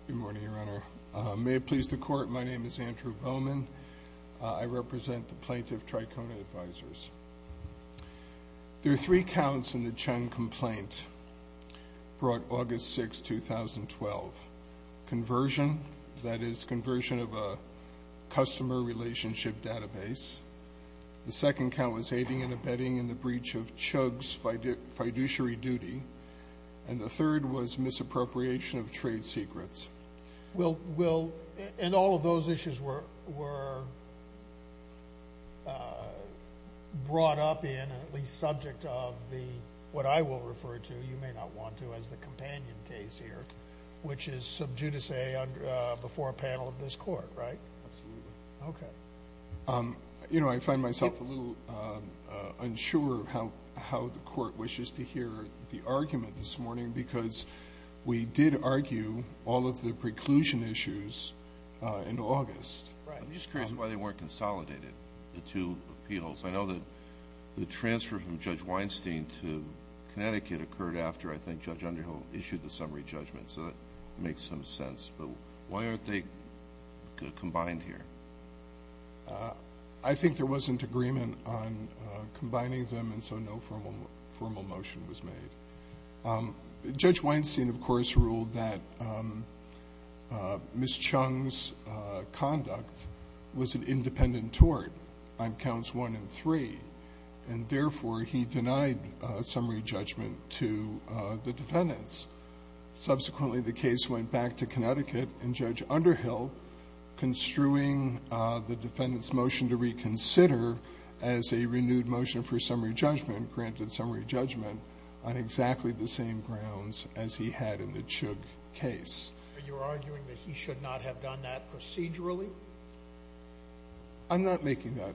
Good morning, Your Honor. May it please the Court, my name is Andrew Bowman. I represent the Plaintiff Trikona Advisers. There are three counts in the Chung complaint brought August 6, 2012. Conversion, that is conversion of a customer relationship database. The second count was aiding and abetting in the breach of Chung's fiduciary duty. And the third was misappropriation of trade secrets. And all of those issues were brought up in, at least subject of, what I will refer to, you may not want to, as the companion case here, which is sub judice before a panel of this Court, right? Absolutely. Okay. You know, I find myself a little unsure of how the Court wishes to hear the argument this morning because we did argue all of the preclusion issues in August. Right. I'm just curious why they weren't consolidated, the two appeals. I know that the transfer from Judge Weinstein to Connecticut occurred after, I think, Judge Underhill issued the summary judgment, so that makes some sense. But why aren't they combined here? I think there wasn't agreement on combining them, and so no formal motion was made. Judge Weinstein, of course, ruled that Ms. Chung's conduct was an independent tort on counts 1 and 3, and therefore he denied summary judgment to the defendants. Subsequently, the case went back to Connecticut, and Judge Underhill, construing the defendant's motion to reconsider as a renewed motion for summary judgment, granted summary judgment on exactly the same grounds as he had in the Chug case. Are you arguing that he should not have done that procedurally? I'm not making that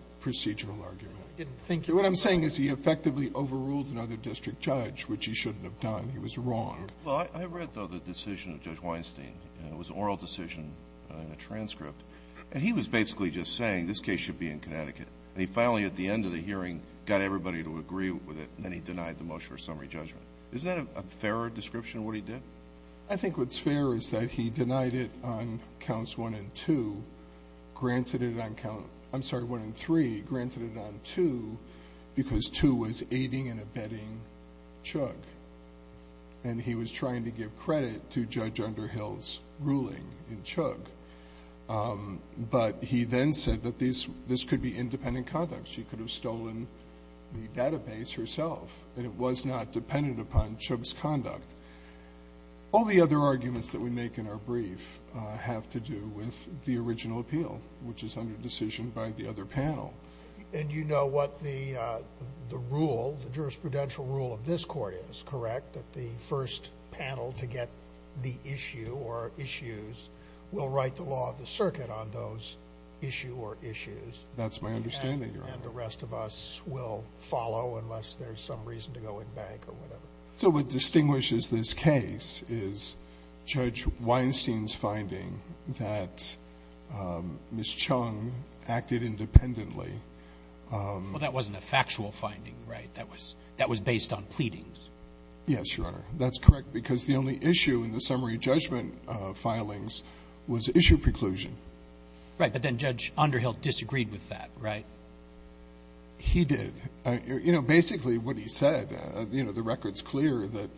he shouldn't have done. He was wrong. Well, I read, though, the decision of Judge Weinstein. It was an oral decision in a transcript. And he was basically just saying this case should be in Connecticut. And he finally, at the end of the hearing, got everybody to agree with it, and then he denied the motion for summary judgment. Is that a fairer description of what he did? I think what's fair is that he denied it on counts 1 and 2, granted it on count I'm sorry, 1 and 3, granted it on 2, because 2 was aiding and abetting Chug. And he was trying to give credit to Judge Underhill's ruling in Chug. But he then said that this could be independent conduct. She could have stolen the database herself, and it was not dependent upon Chug's conduct. All the other arguments that we make in our brief have to do with the original appeal, which is under decision by the other panel. And you know what the rule, the jurisprudential rule of this court is, correct? That the first panel to get the issue or issues will write the law of the circuit on those issue or issues. That's my understanding, Your Honor. And the rest of us will follow, unless there's some reason to go in bank or whatever. So what distinguishes this case is Judge Weinstein's finding that Ms. Chug acted independently. Well, that wasn't a factual finding, right? That was based on pleadings. Yes, Your Honor. That's correct, because the only issue in the summary judgment filings was issue preclusion. Right. But then Judge Underhill disagreed with that, right? He did. You know, basically, what he said, you know, the record's clear that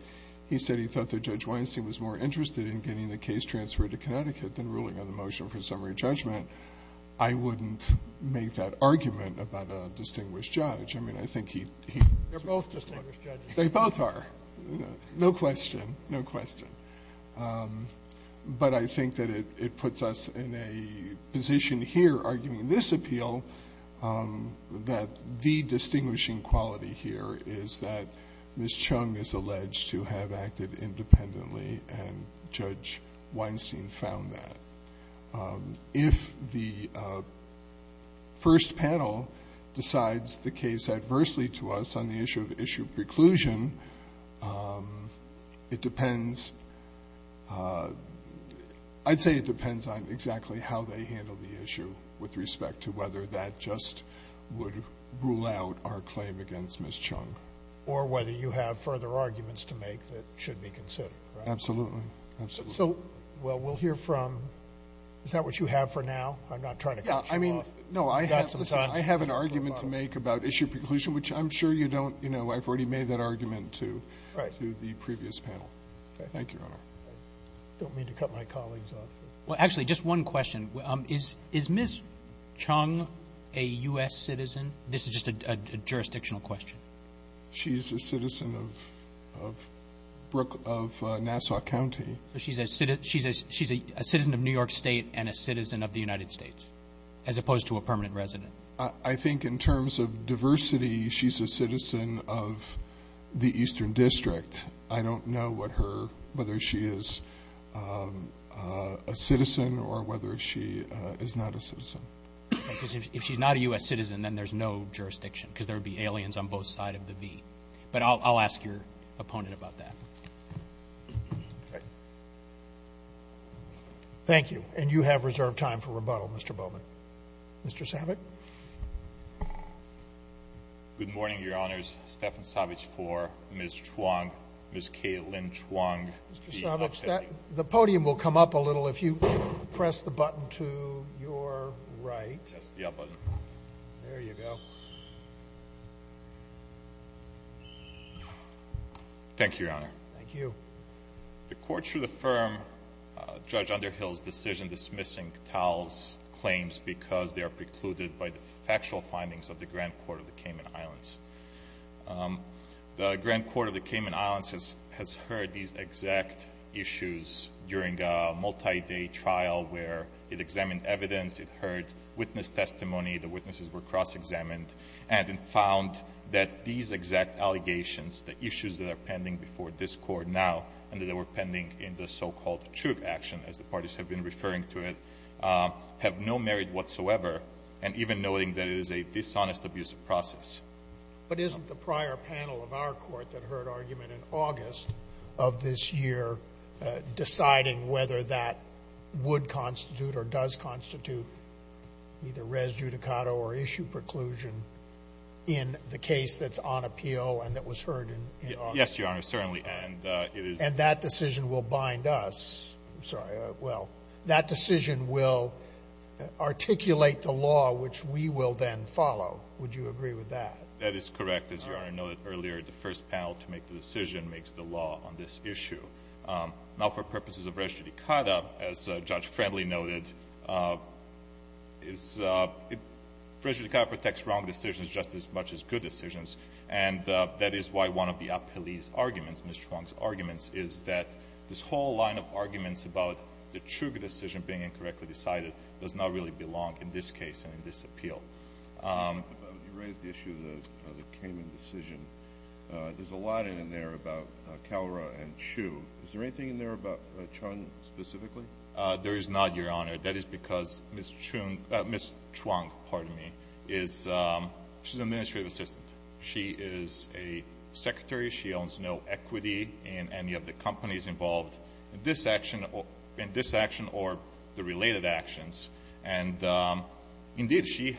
he said he thought that Judge Weinstein was more interested in getting the case transferred to Connecticut than ruling on the motion for summary judgment. I wouldn't make that argument about a distinguished judge. I mean, I think he was right. They're both distinguished judges. They both are. No question. No question. But I think that it puts us in a position here, arguing this appeal, that the distinguishing quality here is that Ms. Chug is alleged to have acted independently, and Judge Weinstein found that. If the first panel decides the case adversely to us on the issue of issue preclusion, it depends — I'd say it depends on exactly how they handle the issue with respect to whether that just would rule out our claim against Ms. Chug. Or whether you have further arguments to make that should be considered, right? Absolutely. Absolutely. So, well, we'll hear from — is that what you have for now? I'm not trying to cut you off. Yeah. I mean, no, I have — You've got some time. Listen, I have an argument to make about issue preclusion, which I'm sure you don't — you have an argument to the previous panel. Thank you, Your Honor. I don't mean to cut my colleagues off. Well, actually, just one question. Is Ms. Chug a U.S. citizen? This is just a jurisdictional question. She's a citizen of Nassau County. She's a citizen of New York State and a citizen of the United States, as opposed to a permanent resident. I think in terms of diversity, she's a citizen of the Eastern District. I don't know what her — whether she is a citizen or whether she is not a citizen. If she's not a U.S. citizen, then there's no jurisdiction, because there would be aliens on both sides of the V. But I'll ask your opponent about that. Thank you. And you have reserved time for rebuttal, Mr. Bowman. Mr. Savick? Good morning, Your Honors. Stefan Savick for Ms. Chuang — Ms. Kaitlyn Chuang. Mr. Savick, the podium will come up a little if you press the button to your right. Yes, the up button. There you go. Thank you, Your Honor. Thank you. The court should affirm Judge Underhill's decision dismissing Tal's claims because they are precluded by the factual findings of the Grand Court of the Cayman Islands. The Grand Court of the Cayman Islands has heard these exact issues during a multi-day trial where it examined evidence, it heard witness testimony — the witnesses were cross-examined — and found that these exact allegations, the issues that are pending before this Court now and that were pending in the so-called Truk action, as the parties have been referring to it, have no merit whatsoever, and even noting that it is a dishonest, abusive process. But isn't the prior panel of our Court that heard argument in August of this year deciding whether that would constitute or does constitute either res judicata or issue preclusion in the case that's on appeal and that was heard in August? Yes, Your Honor, certainly. And it is — And that decision will bind us — I'm sorry, well, that decision will articulate the law which we will then follow. Would you agree with that? That is correct. As Your Honor noted earlier, the first panel to make the decision makes the law on this issue. Now, for purposes of res judicata, as Judge Friendly noted, res judicata protects wrong decisions just as much as good decisions. And that is why one of the appellee's arguments, Ms. Chuang's arguments, is that this whole line of arguments about the Truk decision being incorrectly decided does not really belong in this case and in this appeal. But you raised the issue of the Kamen decision. There's a lot in there about Kalra and Chu. Is there anything in there about Chun specifically? There is not, Your Honor. That is because Ms. Chuang is an administrative assistant. She is a secretary. She owns no equity in any of the companies involved in this action or the related actions. And indeed, she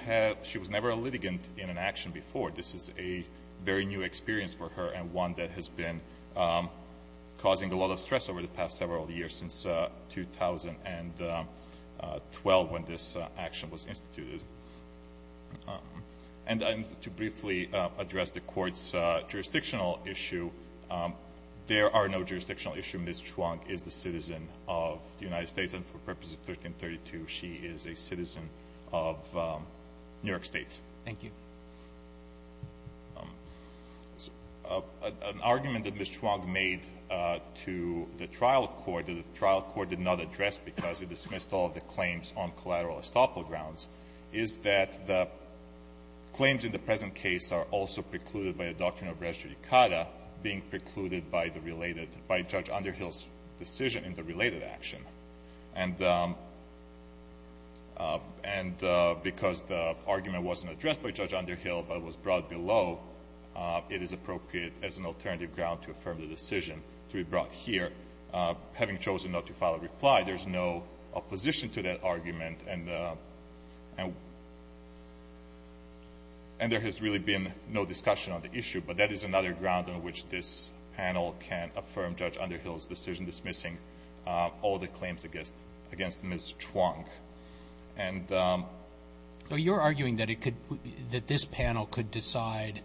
was never a litigant in an action before. This is a very new experience for her and one that has been causing a lot of stress over the past several years, since 2012, when this action was instituted. And to briefly address the Court's jurisdictional issue, there are no jurisdictional issues. Ms. Chuang is the citizen of the United States, and for purposes of 1332, she is a citizen of New York State. Thank you. An argument that Ms. Chuang made to the trial court that the trial court did not address because it dismissed all of the claims on collateral estoppel grounds is that the claims in the present case are also precluded by a doctrine of res judicata being precluded by the related by Judge Underhill's decision in the related action. And because the argument wasn't addressed by Judge Underhill but was brought below, it is appropriate as an alternative ground to affirm the decision to be brought here. Having chosen not to file a reply, there's no opposition to that argument, and there has really been no discussion on the issue. But that is another ground on which this panel can affirm Judge Underhill's decision dismissing all the claims against Ms. Chuang. And the ---- So you're arguing that it could be ---- that this panel could decide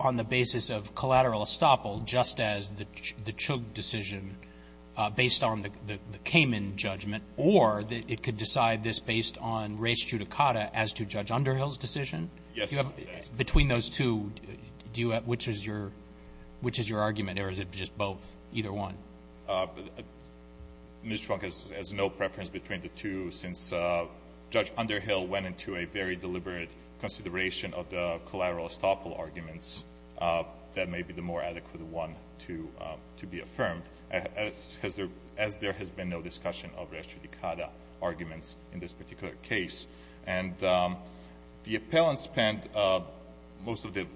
on the basis of collateral estoppel just as the Chugh decision based on the Kamen judgment, or that it could decide this based on res judicata as to Judge Underhill's decision? Yes. Between those two, do you have ---- which is your argument, or is it just both, either one? Ms. Chuang has no preference between the two, since Judge Underhill went into a very deliberate consideration of the collateral estoppel arguments that may be the more adequate one to be affirmed, as there has been no discussion of res judicata arguments in this particular case. And the appellant spent most of the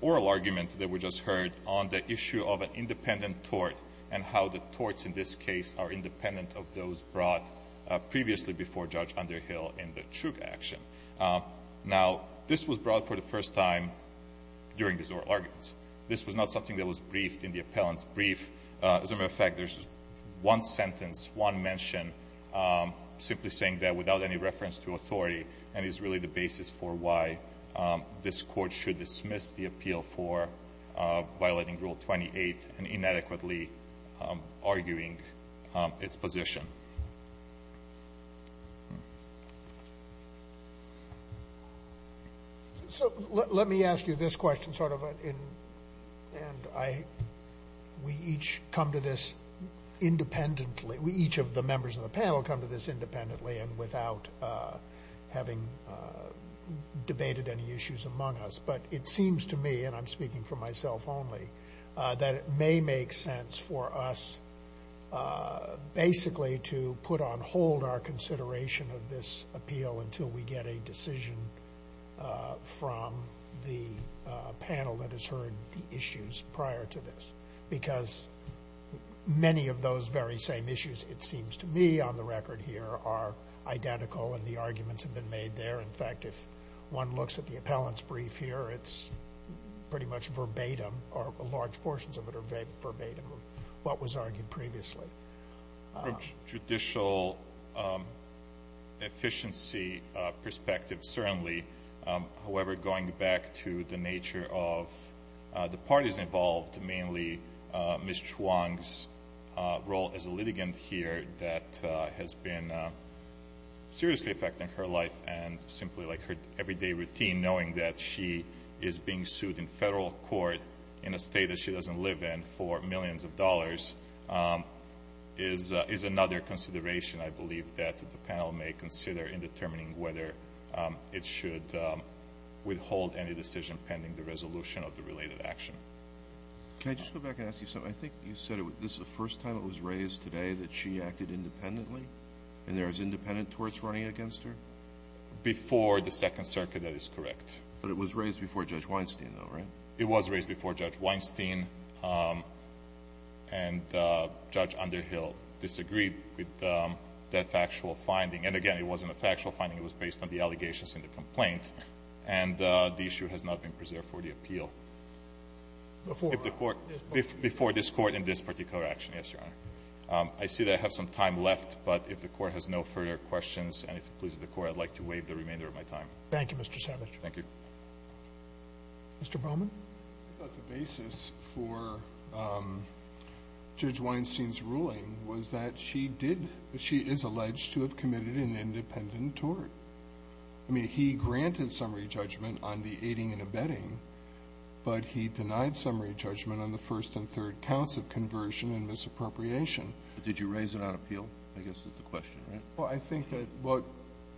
oral argument that we just heard on the issue of an independent tort and how the torts in this case are independent of those brought previously before Judge Underhill in the Chugh action. Now, this was brought for the first time during these oral arguments. This was not something that was briefed in the appellant's brief. As a matter of fact, there's one sentence, one mention, simply saying that without any reference to authority, and is really the basis for why this Court should dismiss the appeal for violating Rule 28 and inadequately arguing its position. So let me ask you this question sort of in ---- and I ---- we each come to this independently. Each of the members of the panel come to this independently and without having debated any issues among us, but it seems to me, and I'm speaking for myself only, that it may make sense for us basically to put on hold our consideration of this appeal until we get a decision from the panel that has heard the issues prior to this, because many of those very same issues, it seems to me, on the record here are identical and the arguments have been made there. In fact, if one looks at the appellant's brief here, it's pretty much verbatim, or large portions of it are verbatim, what was argued previously. From judicial efficiency perspective, certainly, however, going back to the nature of the parties involved, mainly Ms. Chuang's role as a litigant here that has been seriously affecting her life and simply like her everyday routine, knowing that she is being sued in federal court in a state that she doesn't live in for millions of dollars, is another consideration I believe that the panel may consider in determining whether it should withhold any decision pending the resolution of the related action. Can I just go back and ask you something? I think you said this is the first time it was raised today that she acted independently and there was independent torts running against her? Before the Second Circuit, that is correct. But it was raised before Judge Weinstein, though, right? It was raised before Judge Weinstein, and Judge Underhill disagreed with that factual finding. And again, it wasn't a factual finding, it was based on the allegations in the complaint, and the issue has not been preserved for the appeal. Before this Court in this particular action, yes, Your Honor. I see that I have some time left, but if the Court has no further questions and if it pleases the Court, I'd like to waive the remainder of my time. Thank you, Mr. Savitch. Thank you. Mr. Bowman? I thought the basis for Judge Weinstein's ruling was that she did — she is alleged to have committed an independent tort. I mean, he granted summary judgment on the aiding and abetting, but he denied summary judgment on the first and third counts of conversion and misappropriation. But did you raise it on appeal, I guess, is the question, right? Well, I think that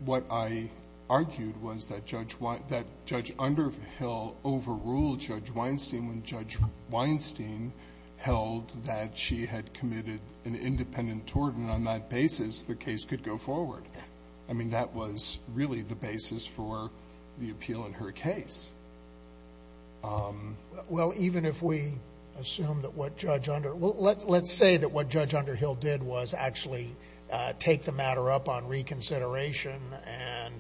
what I argued was that Judge — that Judge Underhill overruled Judge Weinstein when Judge Weinstein held that she had committed an independent tort, and on that basis, the case could go forward. I mean, that was really the basis for the appeal in her case. Well, even if we assume that what Judge Under — well, let's say that what Judge Underhill did was actually take the matter up on reconsideration and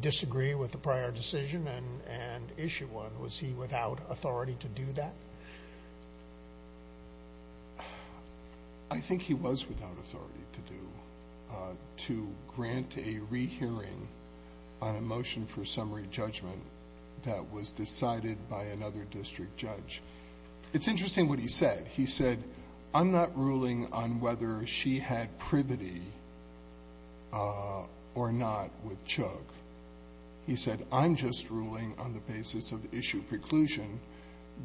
disagree with the prior decision and issue one. Was he without authority to do that? I think he was without authority to do — to grant a rehearing on a motion for summary judgment that was decided by another district judge. It's interesting what he said. He said, I'm not ruling on whether she had privity or not with Chugh. He said, I'm just ruling on the basis of issue preclusion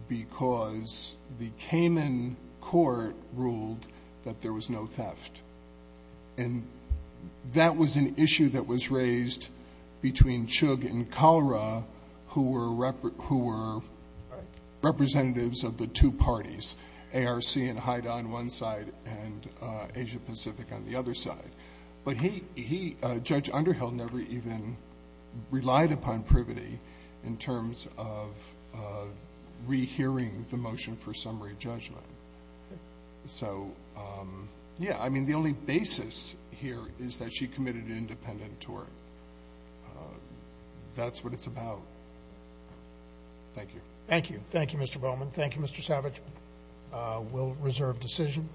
because the Cayman Court ruled that there was no theft. And that was an issue that was raised between Chugh and Kalra, who were — who were representatives of the two parties, ARC in Haida on one side and Asia Pacific on the other side. But he — Judge Underhill never even relied upon privity in terms of rehearing the motion for summary judgment. So, yeah, I mean, the only basis here is that she committed an independent tort. That's what it's about. Thank you. Thank you. Thank you, Mr. Bowman. Thank you, Mr. Savage. We'll reserve decision.